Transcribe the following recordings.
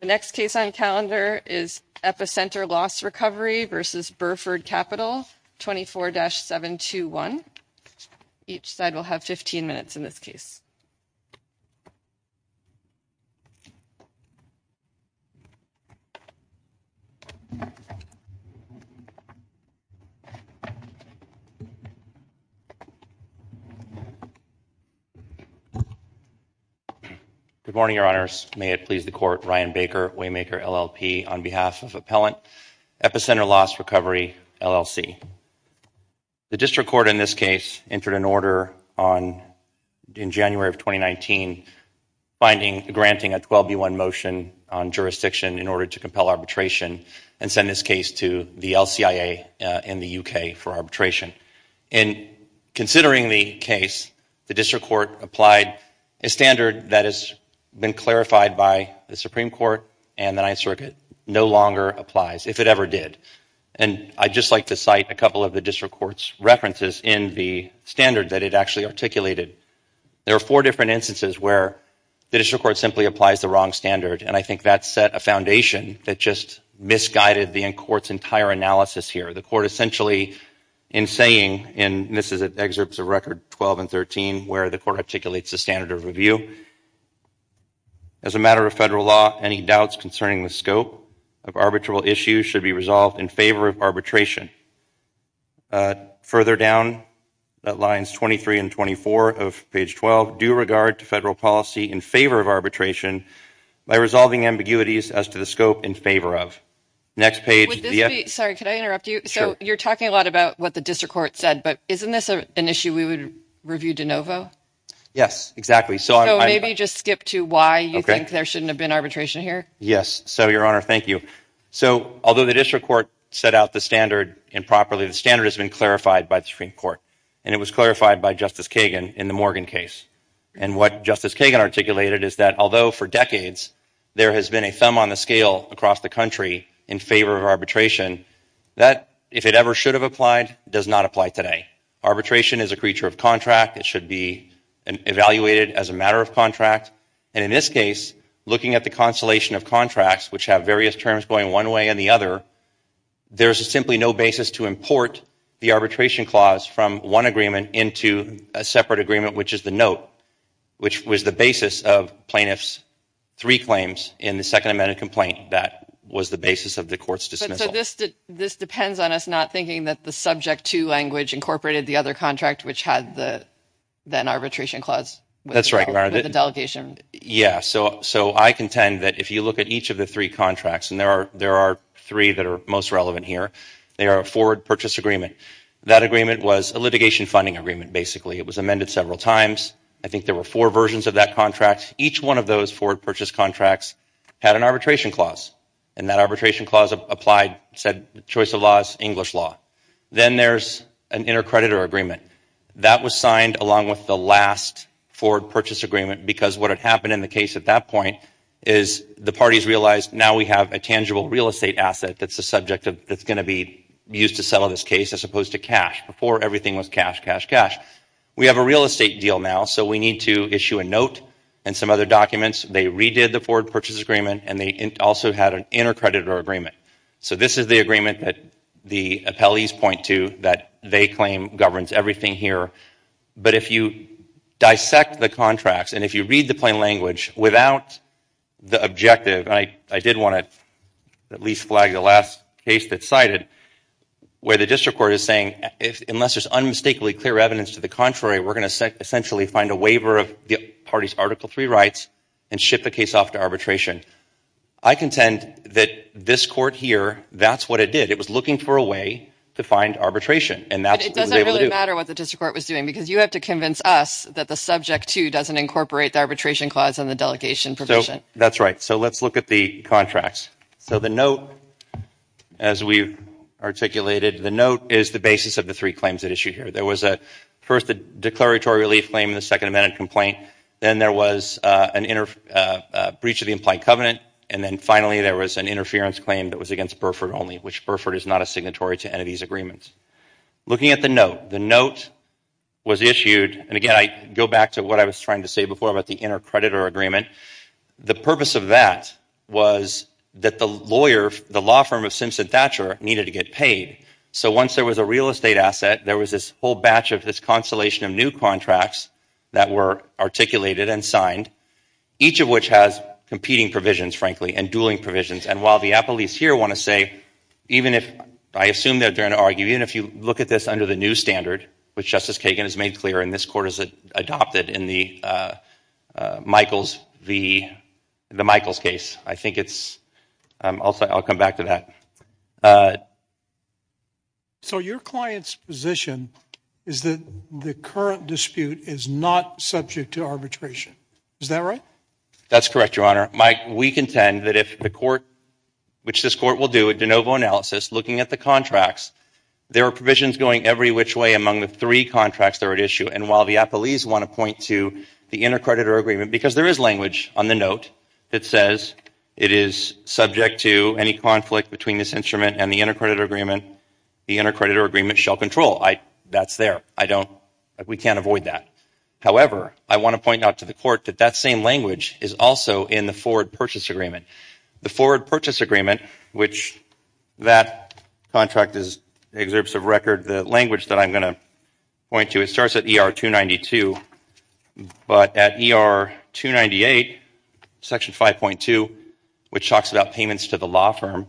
The next case on calendar is Epicenter Loss Recovery versus Burford Capital, 24-721. Each side will have 15 minutes in this case. Good morning, Your Honors. May it please the Court, Ryan Baker, Waymaker LLP, on behalf of Appellant, Epicenter Loss Recovery, LLC. The District Court in this case entered an order in January of 2019 granting a 12-1 motion on jurisdiction in order to compel arbitration and send this case to the LCIA in the UK for arbitration. And considering the case, the District Court applied a standard that has been clarified by the Supreme Court and the Ninth Circuit, no longer applies, if it ever did. And I'd just like to cite a couple of the District Court's references in the standard that it actually articulated. There are four different instances where the District Court simply applies the wrong standard, and I think that set a foundation that just misguided the Court's entire analysis here. The Court essentially in saying, and this is at excerpts of Record 12 and 13 where the Court articulates the standard of review, as a matter of federal law, any doubts concerning the scope of arbitral issues should be resolved in favor of arbitration. Further down at lines 23 and 24 of page 12, due regard to federal policy in favor of arbitration by resolving ambiguities as to the scope in favor of. Next page. Sorry, could I interrupt you? So you're talking a lot about what the District Court said, but isn't this an issue we would review de novo? Yes, exactly. So maybe just skip to why you think there shouldn't have been arbitration here. Yes. So, Your Honor, thank you. So although the District Court set out the standard improperly, the standard has been clarified by the Supreme Court, and it was clarified by Justice Kagan in the Morgan case. And what Justice Kagan articulated is that although for decades there has been a thumb on the scale across the country in favor of arbitration, that if it ever should have applied, does not apply today. Arbitration is a creature of contract. It should be evaluated as a matter of contract. And in this case, looking at the constellation of contracts, which have various terms going one way and the other, there's simply no basis to import the arbitration clause from one agreement into a separate agreement, which is the note, which was the basis of plaintiff's three claims in the Second Amendment complaint that was the basis of the court's dismissal. So this depends on us not thinking that the subject to language incorporated the other contract, which had the then arbitration clause with the delegation. Yeah. So I contend that if you look at each of the three contracts, and there are three that are most relevant here, they are a forward purchase agreement. That agreement was a litigation funding agreement, basically. It was amended several times. I think there were four versions of that contract. Each one of those forward purchase contracts had an arbitration clause, and that arbitration clause applied, said choice of laws, English law. Then there's an intercreditor agreement. That was signed along with the last forward purchase agreement because what had happened in the case at that point is the parties realized now we have a tangible real estate asset that's the subject that's going to be used to settle this case as opposed to cash. Before, everything was cash, cash, cash. We have a real estate deal now, so we need to issue a note and some other documents. They redid the forward purchase agreement, and they also had an intercreditor agreement. So this is the agreement that the appellees point to that they claim governs everything here. But if you dissect the contracts and if you read the plain language without the objective, I did want to at least flag the last case that's cited where the district court is saying unless there's unmistakably clear evidence to the contrary, we're going to essentially find a waiver of the party's Article III rights and ship the case off to arbitration. I contend that this court here, that's what it did. It was looking for a way to find arbitration, and that's what it was able to do. But it doesn't really matter what the district court was doing because you have to convince us that the subject, too, doesn't incorporate the arbitration clause in the delegation provision. So that's right. So let's look at the contracts. So the note, as we articulated, the note is the basis of the three claims at issue here. There was first the declaratory relief claim and the Second Amendment complaint. Then there was a breach of the implied covenant, and then finally there was an interference claim that was against Burford only, which Burford is not a signatory to any of these agreements. Looking at the note, the note was issued, and again I go back to what I was trying to say before about the inter-creditor agreement. The purpose of that was that the lawyer, the law firm of Simpson Thatcher, needed to get paid. So once there was a real estate asset, there was this whole batch of this constellation of new contracts that were articulated and signed, each of which has competing provisions, frankly, and dueling provisions. And while the appellees here want to say, even if I assume that they're going to argue, even if you look at this under the new standard, which Justice Kagan has made clear and this court has adopted in the Michaels case, I think it's – I'll come back to that. So your client's position is that the current dispute is not subject to arbitration. Is that right? That's correct, Your Honor. Mike, we contend that if the court, which this court will do a de novo analysis looking at the contracts, there are provisions going every which way among the three contracts that are at issue. And while the appellees want to point to the inter-creditor agreement, because there is language on the note that says it is subject to any conflict between this instrument and the inter-creditor agreement, the inter-creditor agreement shall control. That's there. I don't – we can't avoid that. However, I want to point out to the court that that same language is also in the forward purchase agreement. The forward purchase agreement, which that contract is – exerts a record, the language that I'm going to point to, it starts at ER 292, but at ER 298, Section 5.2, which talks about payments to the law firm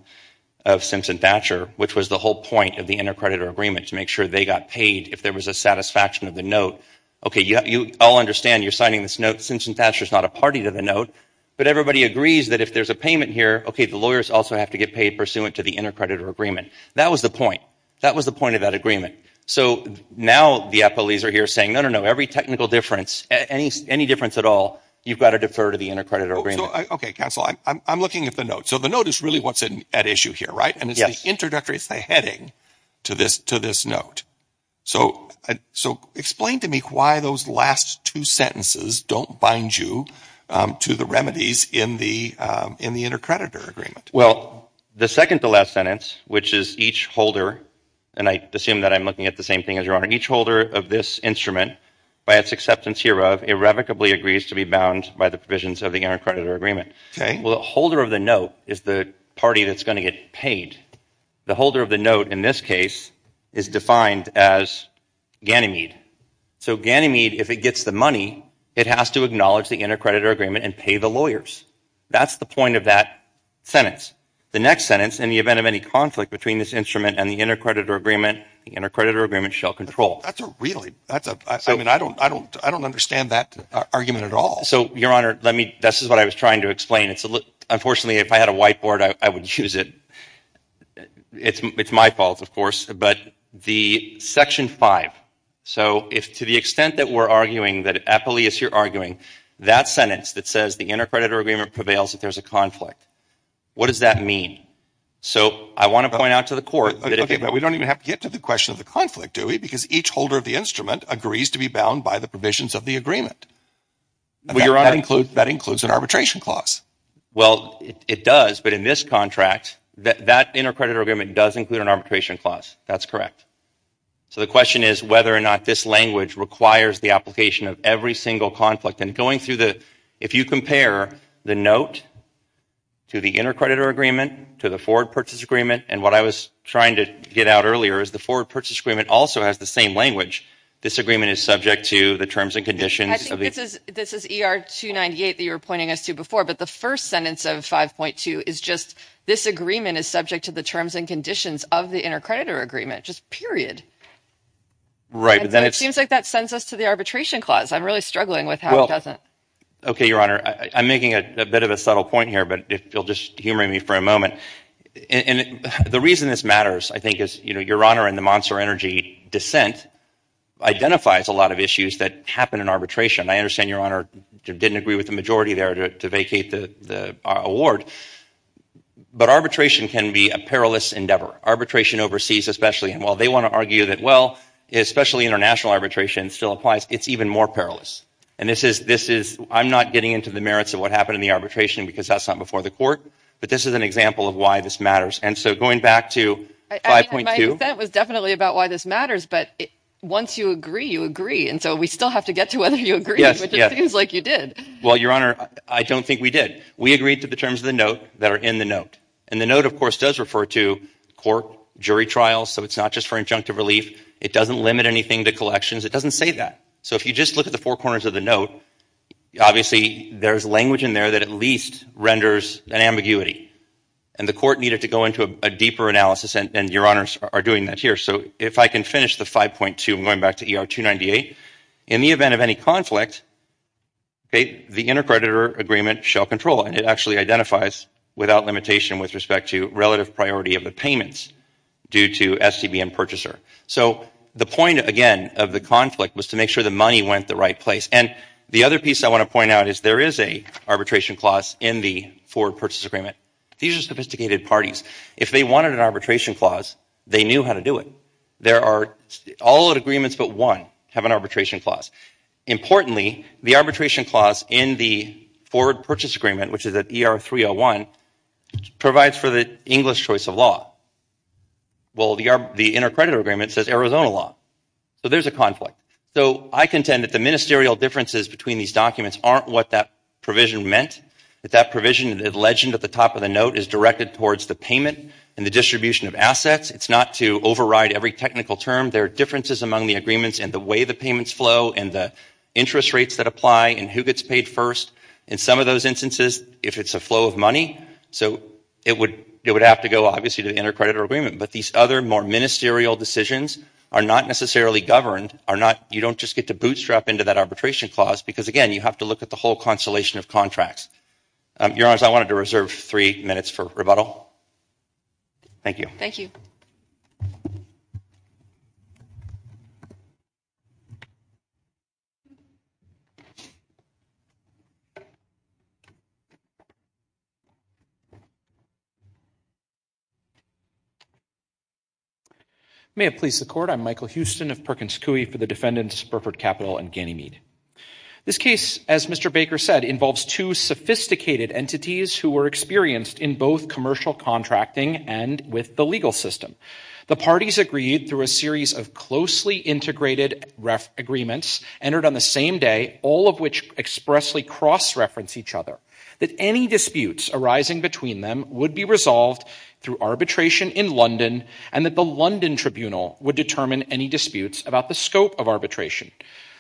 of Simpson Thatcher, which was the whole point of the inter-creditor agreement, to make sure they got paid if there was a satisfaction of the note. Okay, you all understand you're signing this note. Simpson Thatcher is not a party to the note. But everybody agrees that if there's a payment here, okay, the lawyers also have to get paid pursuant to the inter-creditor agreement. That was the point. That was the point of that agreement. So now the appellees are here saying, no, no, no, every technical difference, any difference at all, you've got to defer to the inter-creditor agreement. Okay, counsel, I'm looking at the note. So the note is really what's at issue here, right? Yes. And it's the introductory, it's the heading to this note. So explain to me why those last two sentences don't bind you to the remedies in the inter-creditor agreement. Well, the second to last sentence, which is each holder – and I assume that I'm looking at the same thing as your Honor – each holder of this instrument, by its acceptance hereof, irrevocably agrees to be bound by the provisions of the inter-creditor agreement. Well, the holder of the note is the party that's going to get paid. The holder of the note in this case is defined as Ganymede. So Ganymede, if it gets the money, it has to acknowledge the inter-creditor agreement and pay the lawyers. That's the point of that sentence. The next sentence, in the event of any conflict between this instrument and the inter-creditor agreement, the inter-creditor agreement shall control. That's a really – I mean, I don't understand that argument at all. So, Your Honor, let me – this is what I was trying to explain. Unfortunately, if I had a whiteboard, I would use it. It's my fault, of course. But the Section 5, so if to the extent that we're arguing, that, Apuleius, you're arguing, that sentence that says the inter-creditor agreement prevails if there's a conflict, what does that mean? So I want to point out to the Court – Okay, but we don't even have to get to the question of the conflict, do we? Because each holder of the instrument agrees to be bound by the provisions of the agreement. Well, Your Honor – That includes an arbitration clause. Well, it does. But in this contract, that inter-creditor agreement does include an arbitration clause. That's correct. So the question is whether or not this language requires the application of every single conflict. And going through the – if you compare the note to the inter-creditor agreement to the forward purchase agreement, and what I was trying to get out earlier, is the forward purchase agreement also has the same language. This agreement is subject to the terms and conditions of the – I think this is ER 298 that you were pointing us to before, but the first sentence of 5.2 is just this agreement is subject to the terms and conditions of the inter-creditor agreement, just period. Right, but then it's – It seems like that sends us to the arbitration clause. I'm really struggling with how it doesn't – Okay, Your Honor, I'm making a bit of a subtle point here, but if you'll just humor me for a moment. And the reason this matters, I think, is Your Honor, in the Monster Energy dissent, identifies a lot of issues that happen in arbitration. I understand Your Honor didn't agree with the majority there to vacate the award, but arbitration can be a perilous endeavor, arbitration overseas especially. And while they want to argue that, well, especially international arbitration still applies, it's even more perilous. And this is – I'm not getting into the merits of what happened in the arbitration because that's not before the court, but this is an example of why this matters. And so going back to 5.2 – My dissent was definitely about why this matters, but once you agree, you agree. And so we still have to get to whether you agreed, which it seems like you did. Well, Your Honor, I don't think we did. We agreed to the terms of the note that are in the note. And the note, of course, does refer to court jury trials, so it's not just for injunctive relief. It doesn't limit anything to collections. It doesn't say that. So if you just look at the four corners of the note, obviously there's language in there that at least renders an ambiguity. And the court needed to go into a deeper analysis, and Your Honors are doing that here. So if I can finish the 5.2, I'm going back to ER 298. In the event of any conflict, the intercreditor agreement shall control, and it actually identifies without limitation with respect to relative priority of the payments due to STB and purchaser. So the point, again, of the conflict was to make sure the money went the right place. And the other piece I want to point out is there is an arbitration clause in the forward purchase agreement. These are sophisticated parties. If they wanted an arbitration clause, they knew how to do it. There are all other agreements but one have an arbitration clause. Importantly, the arbitration clause in the forward purchase agreement, which is at ER 301, provides for the English choice of law. Well, the intercreditor agreement says Arizona law. So there's a conflict. So I contend that the ministerial differences between these documents aren't what that provision meant. That that provision, the legend at the top of the note, is directed towards the payment and the distribution of assets. It's not to override every technical term. There are differences among the agreements in the way the payments flow and the interest rates that apply and who gets paid first. In some of those instances, if it's a flow of money, so it would have to go, obviously, to the intercreditor agreement. But these other more ministerial decisions are not necessarily governed. You don't just get to bootstrap into that arbitration clause because, again, you have to look at the whole constellation of contracts. Your Honors, I wanted to reserve three minutes for rebuttal. Thank you. Thank you. May it please the Court, I'm Michael Houston of Perkins Coie for the defendants, Burford Capital and Ganymede. This case, as Mr. Baker said, involves two sophisticated entities who were experienced in both commercial contracting and with the legal system. The parties agreed through a series of closely integrated agreements entered on the same day, all of which expressly cross-reference each other, that any disputes arising between them would be resolved through arbitration in London and that the London Tribunal would determine any disputes about the scope of arbitration.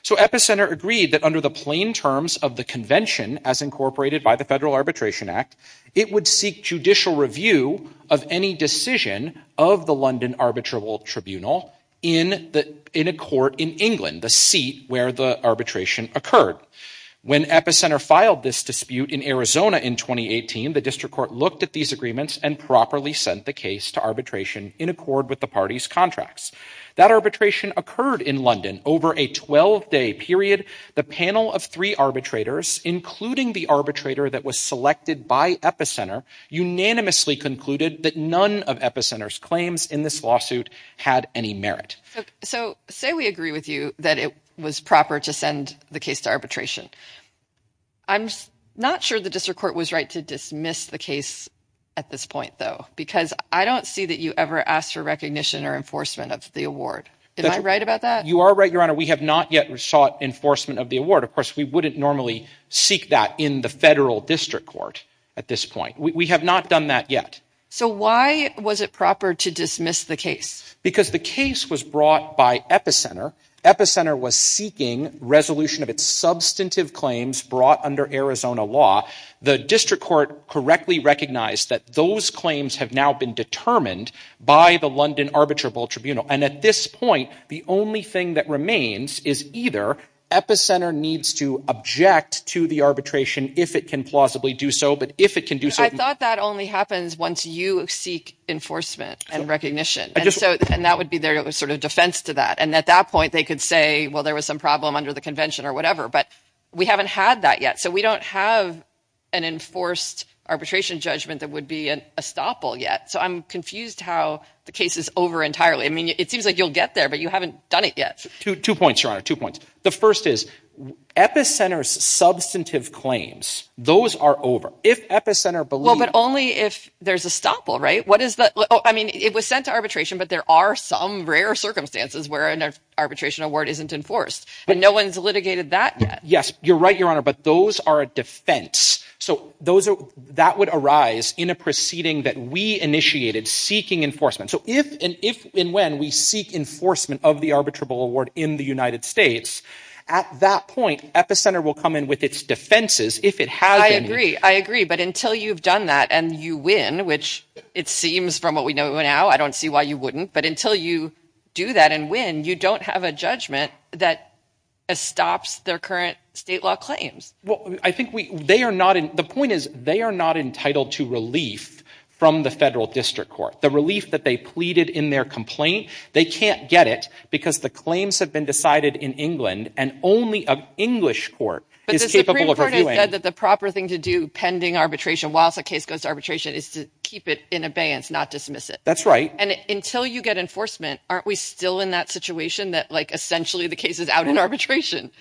So Epicenter agreed that under the plain terms of the Convention, as incorporated by the Federal Arbitration Act, it would seek judicial review of any decision of the London Arbitral Tribunal in a court in England, the seat where the arbitration occurred. When Epicenter filed this dispute in Arizona in 2018, the District Court looked at these agreements and properly sent the case to arbitration in accord with the parties' contracts. That arbitration occurred in London over a 12-day period. The panel of three arbitrators, including the arbitrator that was selected by Epicenter, unanimously concluded that none of Epicenter's claims in this lawsuit had any merit. So say we agree with you that it was proper to send the case to arbitration. I'm not sure the District Court was right to dismiss the case at this point, though, because I don't see that you ever asked for recognition or enforcement of the award. Am I right about that? You are right, Your Honor. We have not yet sought enforcement of the award. Of course, we wouldn't normally seek that in the Federal District Court at this point. We have not done that yet. So why was it proper to dismiss the case? Because the case was brought by Epicenter. Epicenter was seeking resolution of its substantive claims brought under Arizona law. The District Court correctly recognized that those claims have now been determined by the London Arbitral Tribunal. And at this point, the only thing that remains is either Epicenter needs to object to the arbitration if it can plausibly do so, but if it can do so— I thought that only happens once you seek enforcement and recognition. And that would be their sort of defense to that. And at that point, they could say, well, there was some problem under the convention or whatever. But we haven't had that yet. So we don't have an enforced arbitration judgment that would be an estoppel yet. So I'm confused how the case is over entirely. I mean, it seems like you'll get there, but you haven't done it yet. Two points, Your Honor, two points. The first is Epicenter's substantive claims, those are over. If Epicenter believes— Well, but only if there's estoppel, right? I mean, it was sent to arbitration, but there are some rare circumstances where an arbitration award isn't enforced. And no one's litigated that yet. Yes, you're right, Your Honor, but those are a defense. So that would arise in a proceeding that we initiated seeking enforcement. So if and when we seek enforcement of the arbitrable award in the United States, at that point, Epicenter will come in with its defenses if it has been— I agree. I agree. But until you've done that and you win, which it seems from what we know now, I don't see why you wouldn't, but until you do that and win, you don't have a judgment that estops their current state law claims. Well, I think they are not—the point is they are not entitled to relief from the federal district court, the relief that they pleaded in their complaint. They can't get it because the claims have been decided in England and only an English court is capable of reviewing. But the Supreme Court has said that the proper thing to do pending arbitration, whilst a case goes to arbitration, is to keep it in abeyance, not dismiss it. That's right. And until you get enforcement, aren't we still in that situation that, like, essentially the case is out in arbitration?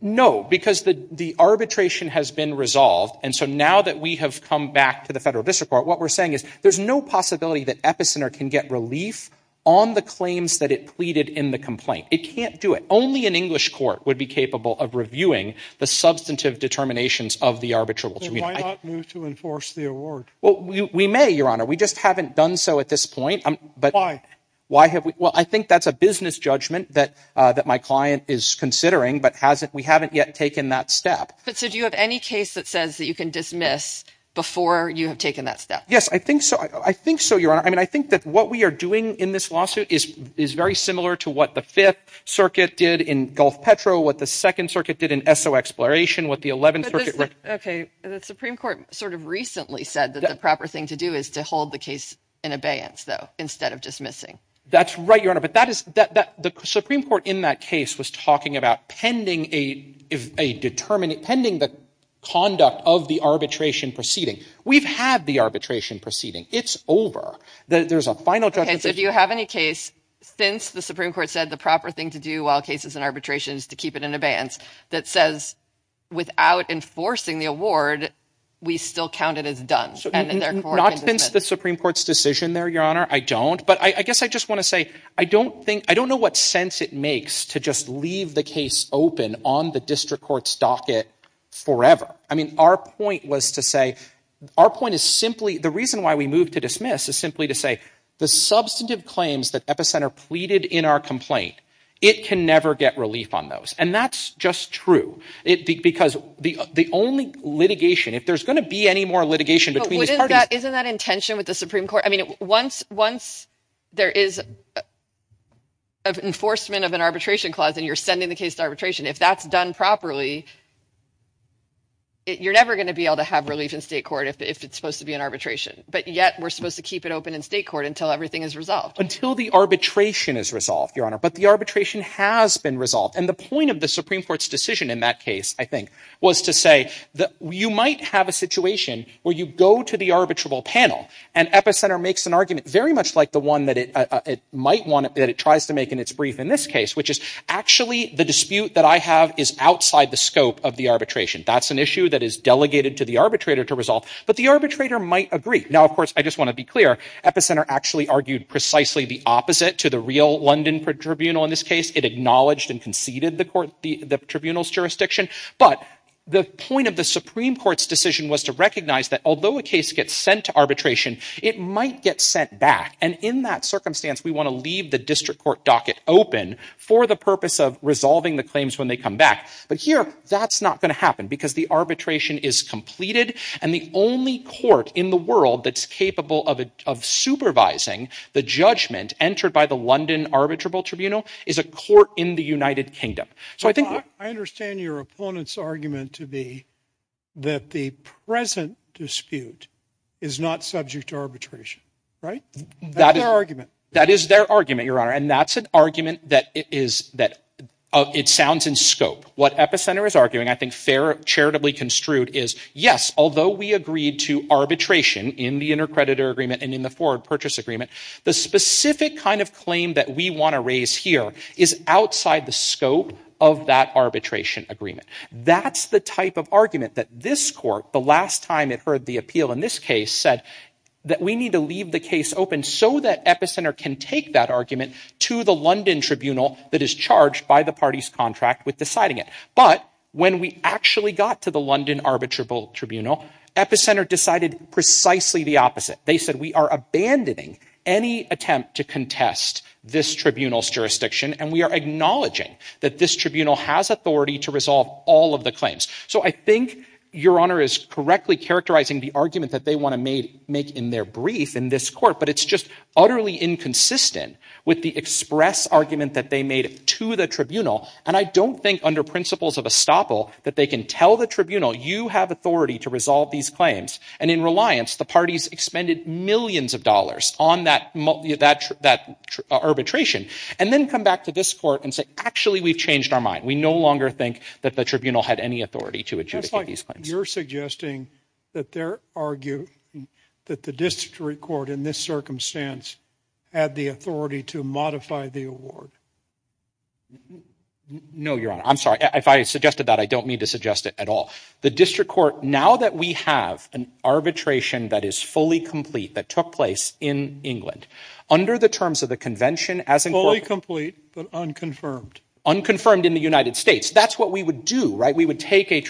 No, because the arbitration has been resolved. And so now that we have come back to the federal district court, what we're saying is there's no possibility that Epicenter can get relief on the claims that it pleaded in the complaint. It can't do it. Only an English court would be capable of reviewing the substantive determinations of the arbitral. Why not move to enforce the award? Well, we may, Your Honor. We just haven't done so at this point. Why? Well, I think that's a business judgment that my client is considering, but we haven't yet taken that step. But so do you have any case that says that you can dismiss before you have taken that step? Yes, I think so. I think so, Your Honor. I mean, I think that what we are doing in this lawsuit is very similar to what the Fifth Circuit did in Gulf Petro, what the Second Circuit did in Esso Exploration, what the Eleventh Circuit did. Okay. The Supreme Court sort of recently said that the proper thing to do is to hold the case in abeyance, though, instead of dismissing. That's right, Your Honor. The Supreme Court in that case was talking about pending the conduct of the arbitration proceeding. We've had the arbitration proceeding. It's over. There's a final judgment. Okay, so do you have any case since the Supreme Court said the proper thing to do while the case is in arbitration is to keep it in abeyance that says without enforcing the award, we still count it as done? Not since the Supreme Court's decision there, Your Honor. I don't. But I guess I just want to say I don't know what sense it makes to just leave the case open on the district court's docket forever. I mean, our point was to say, our point is simply, the reason why we moved to dismiss is simply to say the substantive claims that Epicenter pleaded in our complaint, it can never get relief on those. And that's just true because the only litigation, if there's going to be any more litigation between these parties Isn't that in tension with the Supreme Court? I mean, once there is an enforcement of an arbitration clause and you're sending the case to arbitration, if that's done properly, you're never going to be able to have relief in state court if it's supposed to be an arbitration. But yet, we're supposed to keep it open in state court until everything is resolved. Until the arbitration is resolved, Your Honor. But the arbitration has been resolved. And the point of the Supreme Court's decision in that case, I think, was to say that you might have a situation where you go to the Epicenter makes an argument, very much like the one that it might want, that it tries to make in its brief in this case, which is actually the dispute that I have is outside the scope of the arbitration. That's an issue that is delegated to the arbitrator to resolve. But the arbitrator might agree. Now of course, I just want to be clear, Epicenter actually argued precisely the opposite to the real London Tribunal in this case. It acknowledged and conceded the tribunal's jurisdiction. But the point of the Supreme Court's decision was to recognize that although a case gets sent to arbitration, it might get sent back. And in that circumstance, we want to leave the district court docket open for the purpose of resolving the claims when they come back. But here, that's not going to happen because the arbitration is completed and the only court in the world that's capable of supervising the judgment entered by the London Arbitrable Tribunal is a court in the United Kingdom. I understand your opponent's argument to be that the present dispute is not subject to arbitration, right? That's their argument. That is their argument, Your Honor. And that's an argument that it sounds in scope. What Epicenter is arguing, I think fair, charitably construed, is yes, although we agreed to arbitration in the intercreditor agreement and in the forward purchase agreement, the specific kind of claim that we want to raise here is outside the scope of that arbitration agreement. That's the type of argument that this court, the last time it heard the appeal in this case, said that we need to leave the case open so that Epicenter can take that argument to the London Tribunal that is charged by the party's contract with deciding it. But when we actually got to the London Arbitrable Tribunal, Epicenter decided precisely the opposite. They said we are abandoning any attempt to contest this tribunal's jurisdiction and we are acknowledging that this tribunal has authority to resolve all of the claims. So I think Your Honor is correctly characterizing the argument that they want to make in their brief in this court, but it's just utterly inconsistent with the express argument that they made to the tribunal. And I don't think under principles of estoppel that they can tell the tribunal you have authority to resolve these claims. And in reliance, the parties expended millions of dollars on that arbitration and then come back to this court and say actually we've changed our mind. We no longer think that the tribunal had any authority to adjudicate these claims. Just like you're suggesting that they're arguing that the district court in this circumstance had the authority to modify the award. No, Your Honor. I'm sorry. If I suggested that, I don't mean to suggest it at all. The district court, now that we have an arbitration that is fully complete, that took place in England, under the terms of the convention, Fully complete but unconfirmed. Unconfirmed in the United States. That's what we would do, right? We would take a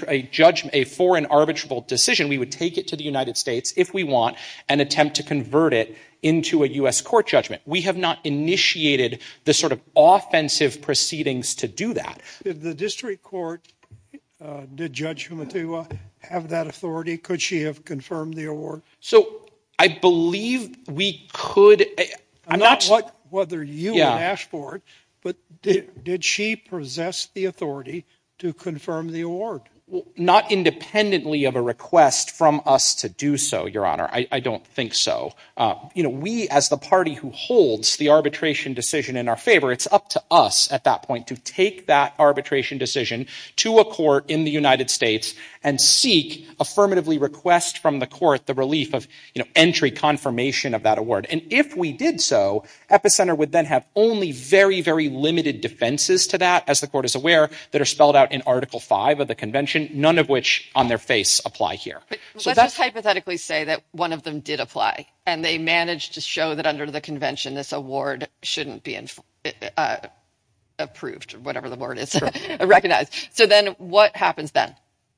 foreign arbitrable decision. We would take it to the United States if we want and attempt to convert it into a U.S. court judgment. We have not initiated the sort of offensive proceedings to do that. Did the district court, did Judge Humatua have that authority? Could she have confirmed the award? So I believe we could. I'm not sure whether you would ask for it, but did she possess the authority to confirm the award? Not independently of a request from us to do so, Your Honor. I don't think so. We, as the party who holds the arbitration decision in our favor, it's up to us at that point to take that arbitration decision to a court in the United States and seek affirmatively request from the court the relief of entry confirmation of that award. And if we did so, Epicenter would then have only very, very limited defenses to that, as the court is aware, that are spelled out in Article V of the convention, none of which on their face apply here. Let's just hypothetically say that one of them did apply and they managed to show that under the convention this award shouldn't be approved, whatever the word is, recognized. So then what happens then?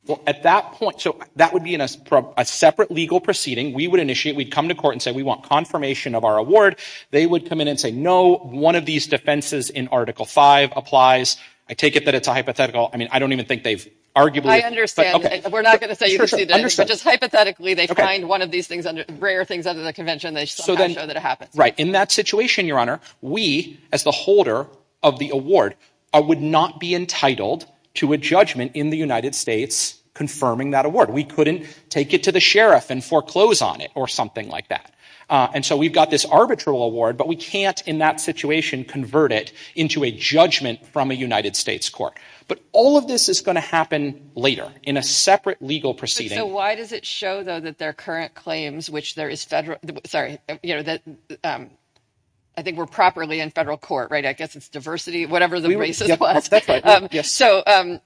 Well, at that point, so that would be a separate legal proceeding. We would initiate, we'd come to court and say we want confirmation of our award. They would come in and say, no, one of these defenses in Article V applies. I take it that it's a hypothetical. I mean, I don't even think they've arguably. I understand. We're not going to say you can see this. Just hypothetically they find one of these rare things under the convention and they just don't have to show that it happens. Right. In that situation, Your Honor, we, as the holder of the award, would not be entitled to a judgment in the United States confirming that award. We couldn't take it to the sheriff and foreclose on it or something like that. And so we've got this arbitral award, but we can't in that situation convert it into a judgment from a United States court. But all of this is going to happen later in a separate legal proceeding. So why does it show, though, that their current claims, which there is federal, sorry, I think we're properly in federal court, right? I guess it's diversity, whatever the basis was. So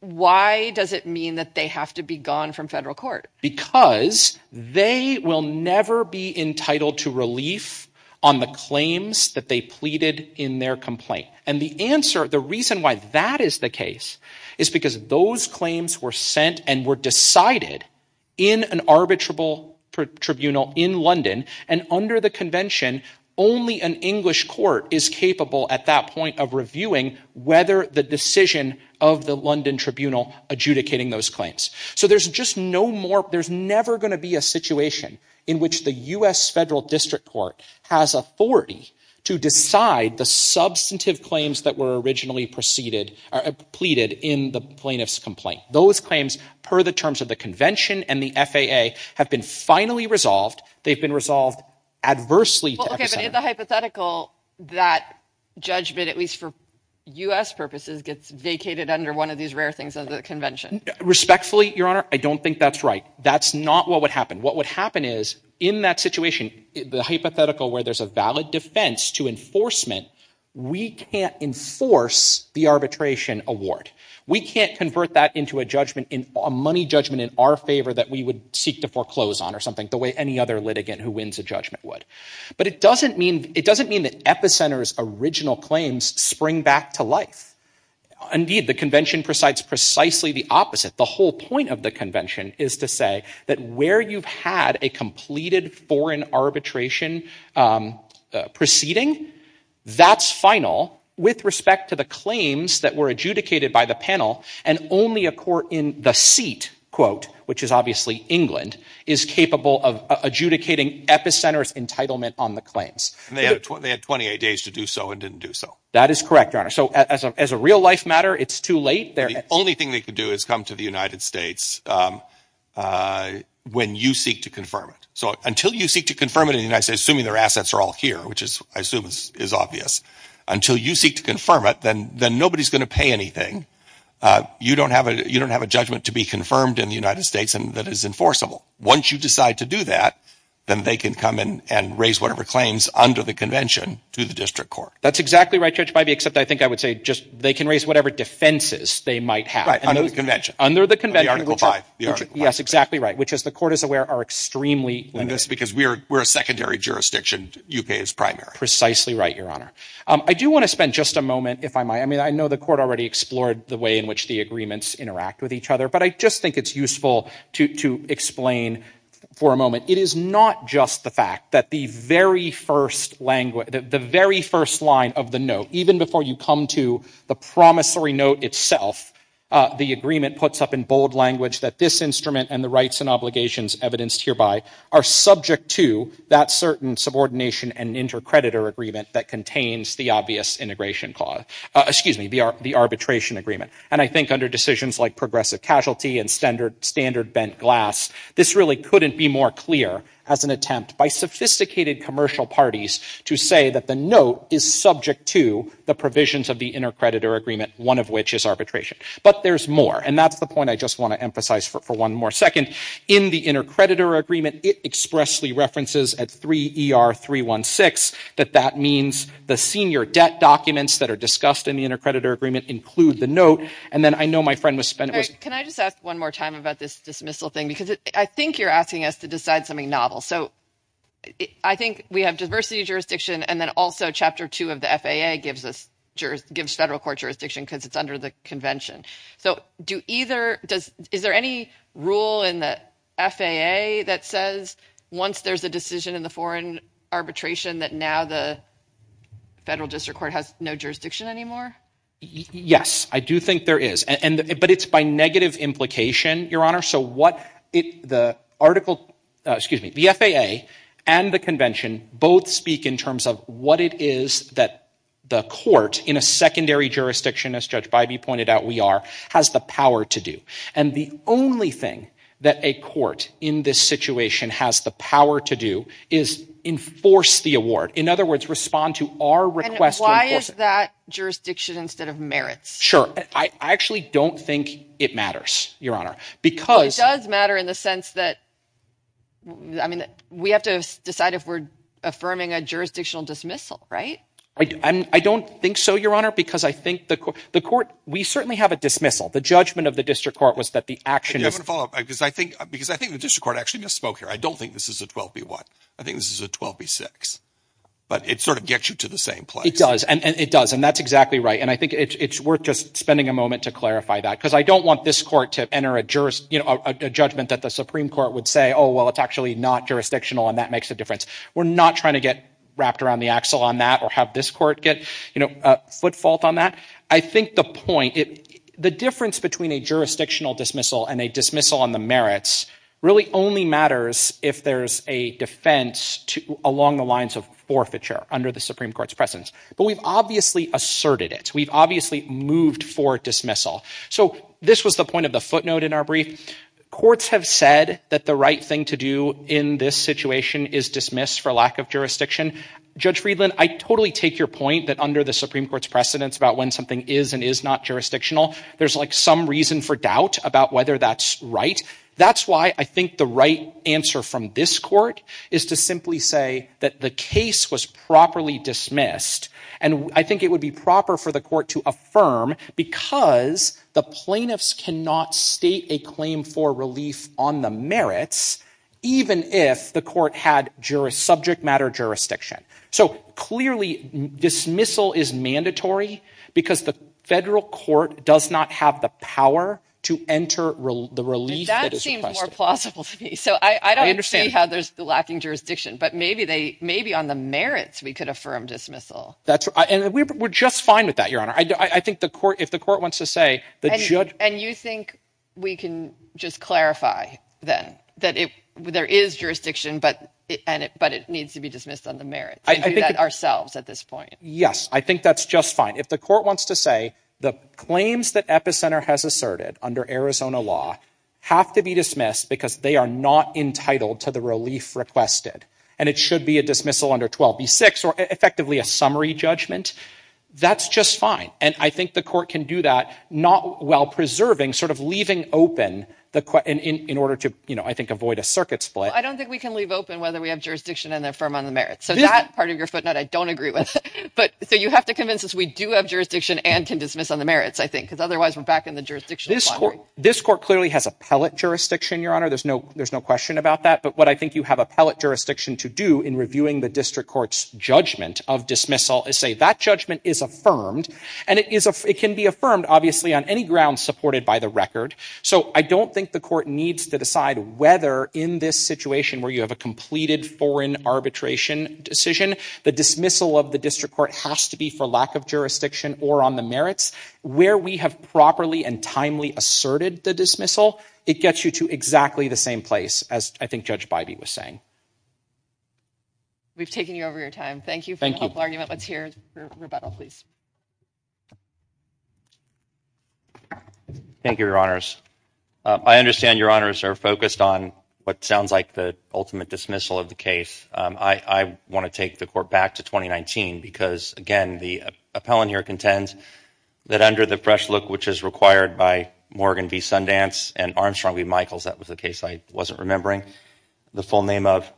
why does it mean that they have to be gone from federal court? Because they will never be entitled to relief on the claims that they pleaded in their complaint. And the answer, the reason why that is the case, is because those claims were sent and were decided in an arbitrable tribunal in London. And under the convention, only an English court is capable at that point of reviewing whether the decision of the London tribunal adjudicating those claims. So there's just no more, there's never going to be a situation in which the U.S. federal district court has authority to decide the substantive claims that were originally preceded or pleaded in the plaintiff's complaint. Those claims, per the terms of the convention and the FAA, have been finally resolved. They've been resolved adversely. Okay, but in the hypothetical, that judgment, at least for U.S. purposes, gets vacated under one of these rare things under the convention. Respectfully, Your Honor, I don't think that's right. That's not what would happen. What would happen is, in that situation, the hypothetical where there's a valid defense to enforcement, we can't enforce the arbitration award. We can't convert that into a judgment, a money judgment in our favor that we would seek to foreclose on or something, the way any other litigant who wins a judgment would. But it doesn't mean that Epicenter's original claims spring back to life. Indeed, the convention presides precisely the opposite. The whole point of the convention is to say that where you've had a completed foreign arbitration proceeding, that's final with respect to the claims that were adjudicated by the panel, and only a court in the seat, quote, which is obviously England, is capable of adjudicating Epicenter's entitlement on the claims. And they had 28 days to do so and didn't do so. That is correct, Your Honor. So as a real-life matter, it's too late. The only thing they could do is come to the United States when you seek to confirm it. So until you seek to confirm it in the United States, assuming their assets are all here, which I assume is obvious, until you seek to confirm it, then nobody's going to pay anything. You don't have a judgment to be confirmed in the United States that is enforceable. Once you decide to do that, then they can come in and raise whatever claims under the convention to the district court. That's exactly right, Judge Bybee, except I think I would say just they can raise whatever defenses they might have. Right, under the convention. Under the convention. The Article 5. Yes, exactly right, which, as the court is aware, are extremely limited. And that's because we're a secondary jurisdiction. U.K. is primary. Precisely right, Your Honor. I do want to spend just a moment, if I might. I mean, I know the court already explored the way in which the agreements interact with each other, but I just think it's useful to explain for a moment. It is not just the fact that the very first line of the note, even before you come to the promissory note itself, the agreement puts up in bold language that this instrument and the rights and obligations evidenced hereby are subject to that certain subordination and intercreditor agreement that contains the obvious integration clause. Excuse me, the arbitration agreement. And I think under decisions like progressive casualty and standard bent glass, this really couldn't be more clear as an attempt by sophisticated commercial parties to say that the note is subject to the provisions of the intercreditor agreement, one of which is arbitration. But there's more, and that's the point I just want to emphasize for one more second. In the intercreditor agreement, it expressly references at 3 ER 316 that that means the senior debt documents that are discussed in the intercreditor agreement include the note. And then I know my friend was spent. Can I just ask one more time about this dismissal thing? Because I think you're asking us to decide something novel. So I think we have diversity of jurisdiction, and then also Chapter 2 of the FAA gives us federal court jurisdiction because it's under the convention. So do either – is there any rule in the FAA that says once there's a decision in the foreign arbitration that now the federal district court has no jurisdiction anymore? Yes, I do think there is. But it's by negative implication, Your Honor. So what the article – excuse me, the FAA and the convention both speak in terms of what it is that the court in a secondary jurisdiction, as Judge Bybee pointed out we are, has the power to do. And the only thing that a court in this situation has the power to do is enforce the award. In other words, respond to our request to enforce it. And why is that jurisdiction instead of merits? Sure. I actually don't think it matters, Your Honor. It does matter in the sense that, I mean, we have to decide if we're affirming a jurisdictional dismissal, right? I don't think so, Your Honor, because I think the court – we certainly have a dismissal. The judgment of the district court was that the action is – I have a follow-up because I think the district court actually misspoke here. I don't think this is a 12B1. I think this is a 12B6. But it sort of gets you to the same place. It does, and it does, and that's exactly right. And I think it's worth just spending a moment to clarify that because I don't want this court to enter a judgment that the Supreme Court would say, oh, well, it's actually not jurisdictional, and that makes a difference. We're not trying to get wrapped around the axle on that or have this court get a foot fault on that. I think the point – the difference between a jurisdictional dismissal and a dismissal on the merits really only matters if there's a defense along the lines of forfeiture under the Supreme Court's precedence. But we've obviously asserted it. We've obviously moved for dismissal. So this was the point of the footnote in our brief. Courts have said that the right thing to do in this situation is dismiss for lack of jurisdiction. Judge Friedland, I totally take your point that under the Supreme Court's precedence about when something is and is not jurisdictional, there's like some reason for doubt about whether that's right. That's why I think the right answer from this court is to simply say that the case was properly dismissed. And I think it would be proper for the court to affirm because the plaintiffs cannot state a claim for relief on the merits even if the court had subject matter jurisdiction. So clearly dismissal is mandatory because the federal court does not have the power to enter the relief that is requested. That seems more plausible to me. So I don't see how there's lacking jurisdiction, but maybe on the merits we could affirm dismissal. And we're just fine with that, Your Honor. I think if the court wants to say – And you think we can just clarify then that there is jurisdiction, but it needs to be dismissed on the merits. We can do that ourselves at this point. Yes, I think that's just fine. If the court wants to say the claims that Epicenter has asserted under Arizona law have to be dismissed because they are not entitled to the relief requested and it should be a dismissal under 12b-6 or effectively a summary judgment, that's just fine. And I think the court can do that not while preserving, sort of leaving open in order to, I think, avoid a circuit split. I don't think we can leave open whether we have jurisdiction and affirm on the merits. So that part of your footnote I don't agree with. So you have to convince us we do have jurisdiction and can dismiss on the merits, I think. Because otherwise we're back in the jurisdiction. This court clearly has appellate jurisdiction, Your Honor. There's no question about that. But what I think you have appellate jurisdiction to do in reviewing the district court's judgment of dismissal is say that judgment is affirmed. And it can be affirmed, obviously, on any ground supported by the record. So I don't think the court needs to decide whether in this situation where you have a completed foreign arbitration decision, the dismissal of the district court has to be for lack of jurisdiction or on the merits. Where we have properly and timely asserted the dismissal, it gets you to exactly the same place, as I think Judge Bybee was saying. We've taken you over your time. Thank you for the helpful argument. Let's hear rebuttal, please. Thank you, Your Honors. I understand Your Honors are focused on what sounds like the ultimate dismissal of the case. I want to take the court back to 2019 because, again, the appellant here contends that under the fresh look which is required by Morgan v. Sundance and Armstrong v. Michaels, that was the case I wasn't remembering, the full name of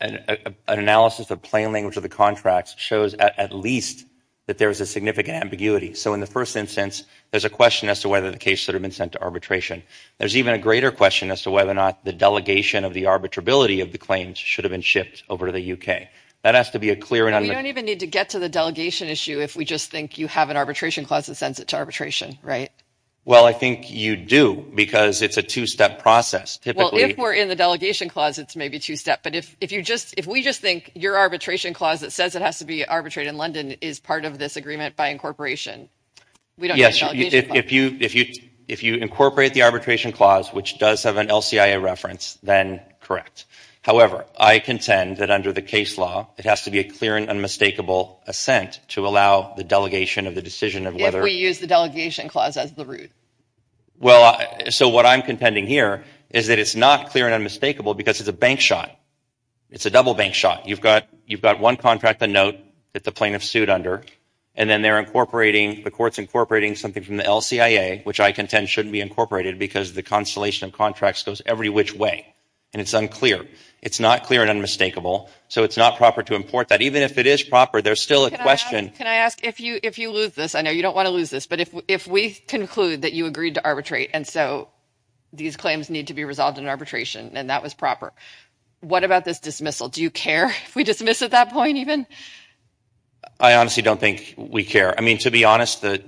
an analysis of plain language of the contracts shows at least that there is a significant ambiguity. So in the first instance, there's a question as to whether the case should have been sent to arbitration. There's even a greater question as to whether or not the delegation of the arbitrability of the claims should have been shipped over to the U.K. We don't even need to get to the delegation issue if we just think you have an arbitration clause that sends it to arbitration, right? Well, I think you do because it's a two-step process. Well, if we're in the delegation clause, it's maybe two-step. But if we just think your arbitration clause that says it has to be arbitrated in London is part of this agreement by incorporation, we don't need the delegation clause. Yes, if you incorporate the arbitration clause, which does have an LCIA reference, then correct. However, I contend that under the case law, it has to be a clear and unmistakable assent to allow the delegation of the decision of whether... If we use the delegation clause as the root. Well, so what I'm contending here is that it's not clear and unmistakable because it's a bank shot. It's a double bank shot. You've got one contract, the note, that the plaintiff sued under, and then they're incorporating... The court's incorporating something from the LCIA, which I contend shouldn't be incorporated because the constellation of contracts goes every which way, and it's unclear. It's not clear and unmistakable, so it's not proper to import that. Even if it is proper, there's still a question... Can I ask, if you lose this... I know you don't want to lose this, but if we conclude that you agreed to arbitrate and so these claims need to be resolved in arbitration and that was proper, what about this dismissal? Do you care if we dismiss at that point even? I honestly don't think we care. I mean, to be honest, I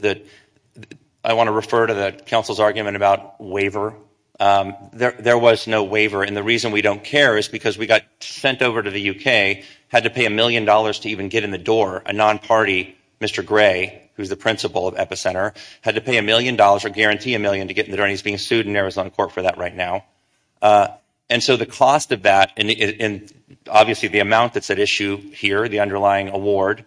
want to refer to the Council's argument about waiver. There was no waiver, and the reason we don't care is because we got sent over to the UK, had to pay a million dollars to even get in the door. A non-party, Mr. Gray, who's the principal of Epicenter, had to pay a million dollars or guarantee a million to get in the door, and he's being sued in Arizona court for that right now. And so the cost of that, and obviously the amount that's at issue here, the underlying award,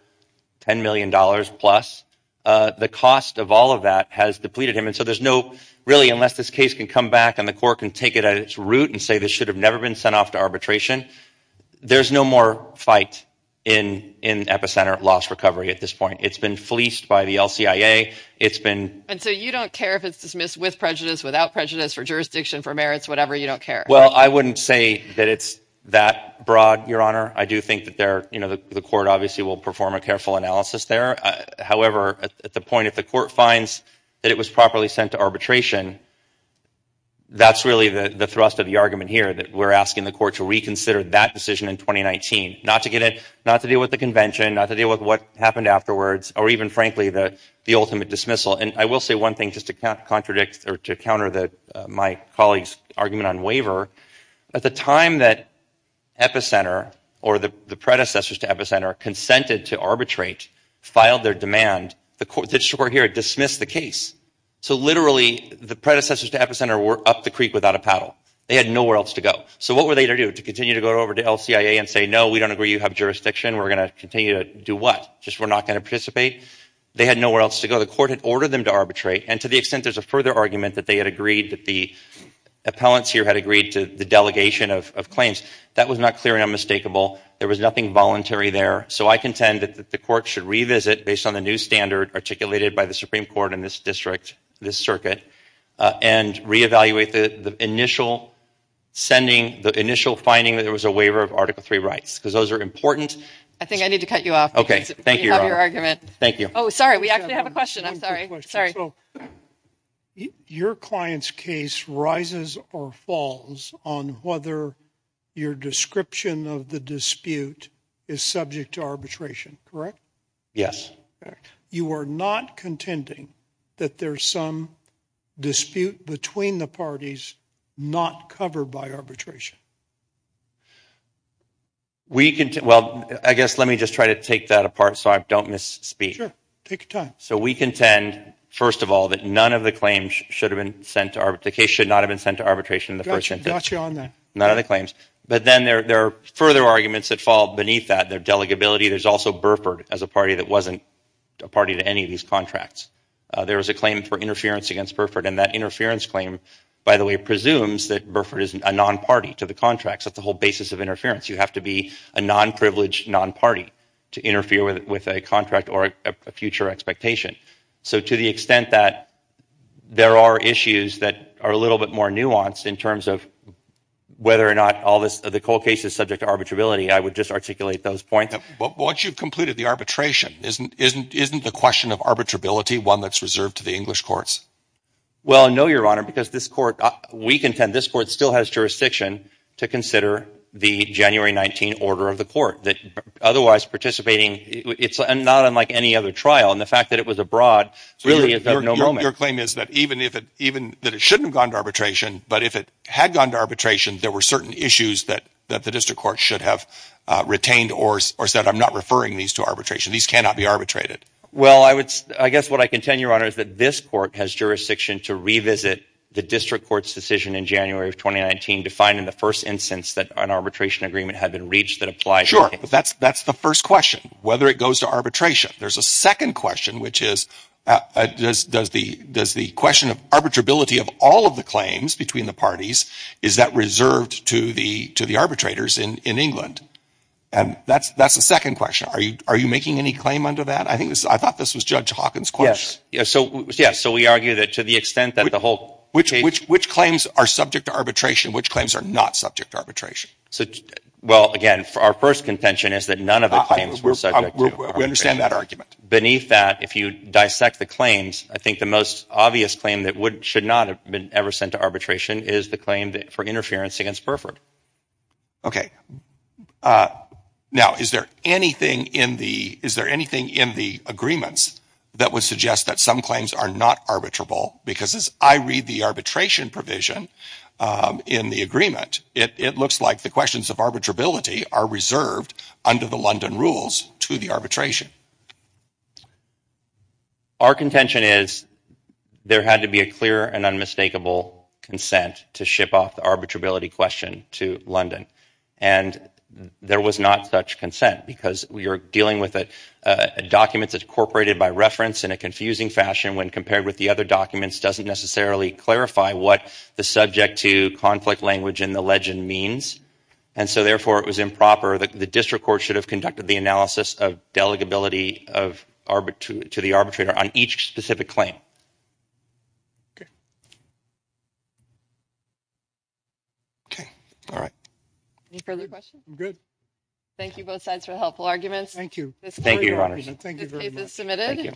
$10 million plus, the cost of all of that has depleted him, and so there's no... Really, unless this case can come back and the court can take it at its root and say this should have never been sent off to arbitration, there's no more fight in Epicenter loss recovery at this point. It's been fleeced by the LCIA, it's been... And so you don't care if it's dismissed with prejudice, without prejudice, for jurisdiction, for merits, whatever, you don't care? Well, I wouldn't say that it's that broad, Your Honor. I do think that there... You know, the court obviously will perform a careful analysis there. However, at the point if the court finds that it was properly sent to arbitration, that's really the thrust of the argument here, that we're asking the court to reconsider that decision in 2019. Not to get in... Not to deal with the convention, not to deal with what happened afterwards, or even, frankly, the ultimate dismissal. And I will say one thing, just to contradict or to counter my colleague's argument on waiver. At the time that Epicenter, or the predecessors to Epicenter, consented to arbitrate, filed their demand, the court that's here dismissed the case. So literally, the predecessors to Epicenter were up the creek without a paddle. They had nowhere else to go. So what were they to do? To continue to go over to LCIA and say, no, we don't agree you have jurisdiction, we're going to continue to do what? Just we're not going to participate? They had nowhere else to go. The court had ordered them to arbitrate, and to the extent there's a further argument that they had agreed, that the appellants here had agreed to the delegation of claims, that was not clear and unmistakable. There was nothing voluntary there. So I contend that the court should revisit, based on the new standard articulated by the Supreme Court in this district, this circuit, and reevaluate the initial sending, the initial finding that there was a waiver of Article III rights, because those are important. I think I need to cut you off. Okay, thank you. You have your argument. Thank you. Oh, sorry, we actually have a question. I'm sorry. So your client's case rises or falls on whether your description of the dispute is subject to arbitration, correct? Yes. You are not contending that there's some dispute between the parties not covered by arbitration? Well, I guess let me just try to take that apart so I don't misspeak. Sure, take your time. So we contend, first of all, that none of the claims should have been sent to arbitration. The case should not have been sent to arbitration in the first instance. Gotcha on that. None of the claims. But then there are further arguments that fall beneath that. There's delegability. There's also Burford as a party that wasn't a party to any of these contracts. There was a claim for interference against Burford, and that interference claim, by the way, presumes that Burford is a non-party to the contracts. That's the whole basis of interference. You have to be a non-privileged non-party to interfere with a contract or a future expectation. So to the extent that there are issues that are a little bit more nuanced in terms of whether or not the Cole case is subject to arbitrability, I would just articulate those points. Once you've completed the arbitration, isn't the question of arbitrability one that's reserved to the English courts? Well, no, Your Honor, because this court, we contend this court still has jurisdiction to consider the January 19 order of the court. Otherwise, participating, it's not unlike any other trial. And the fact that it was abroad really is of no moment. Your claim is that even if it, even that it shouldn't have gone to arbitration, but if it had gone to arbitration, there were certain issues that the district court should have retained or said, I'm not referring these to arbitration. These cannot be arbitrated. Well, I guess what I contend, Your Honor, is that this court has jurisdiction to revisit the district court's decision in January of 2019 to find in the first instance that an arbitration agreement had been reached that applied. That's the first question, whether it goes to arbitration. There's a second question, which is does the question of arbitrability of all of the claims between the parties, is that reserved to the arbitrators in England? And that's the second question. Are you making any claim under that? I thought this was Judge Hawkins' question. Yes. So we argue that to the extent that the whole case... Which claims are subject to arbitration? Which claims are not subject to arbitration? Well, again, our first contention is that none of the claims were subject to arbitration. We understand that argument. Beneath that, if you dissect the claims, I think the most obvious claim that should not have been ever sent to arbitration is the claim for interference against Burford. Okay. Now, is there anything in the agreements that would suggest that some claims are not arbitrable? Because as I read the arbitration provision in the agreement, it looks like the questions of arbitrability are reserved under the London rules to the arbitration. Our contention is there had to be a clear and unmistakable consent to ship off the arbitrability question to London. And there was not such consent because we are dealing with documents that are incorporated by reference in a confusing fashion when compared with the other documents doesn't necessarily clarify what the subject-to-conflict language in the legend means. And so, therefore, it was improper. The district court should have conducted the analysis of delegability to the arbitrator on each specific claim. Okay. Okay. All right. Any further questions? I'm good. Thank you, both sides, for the helpful arguments. Thank you. Thank you, Your Honor. This case is submitted.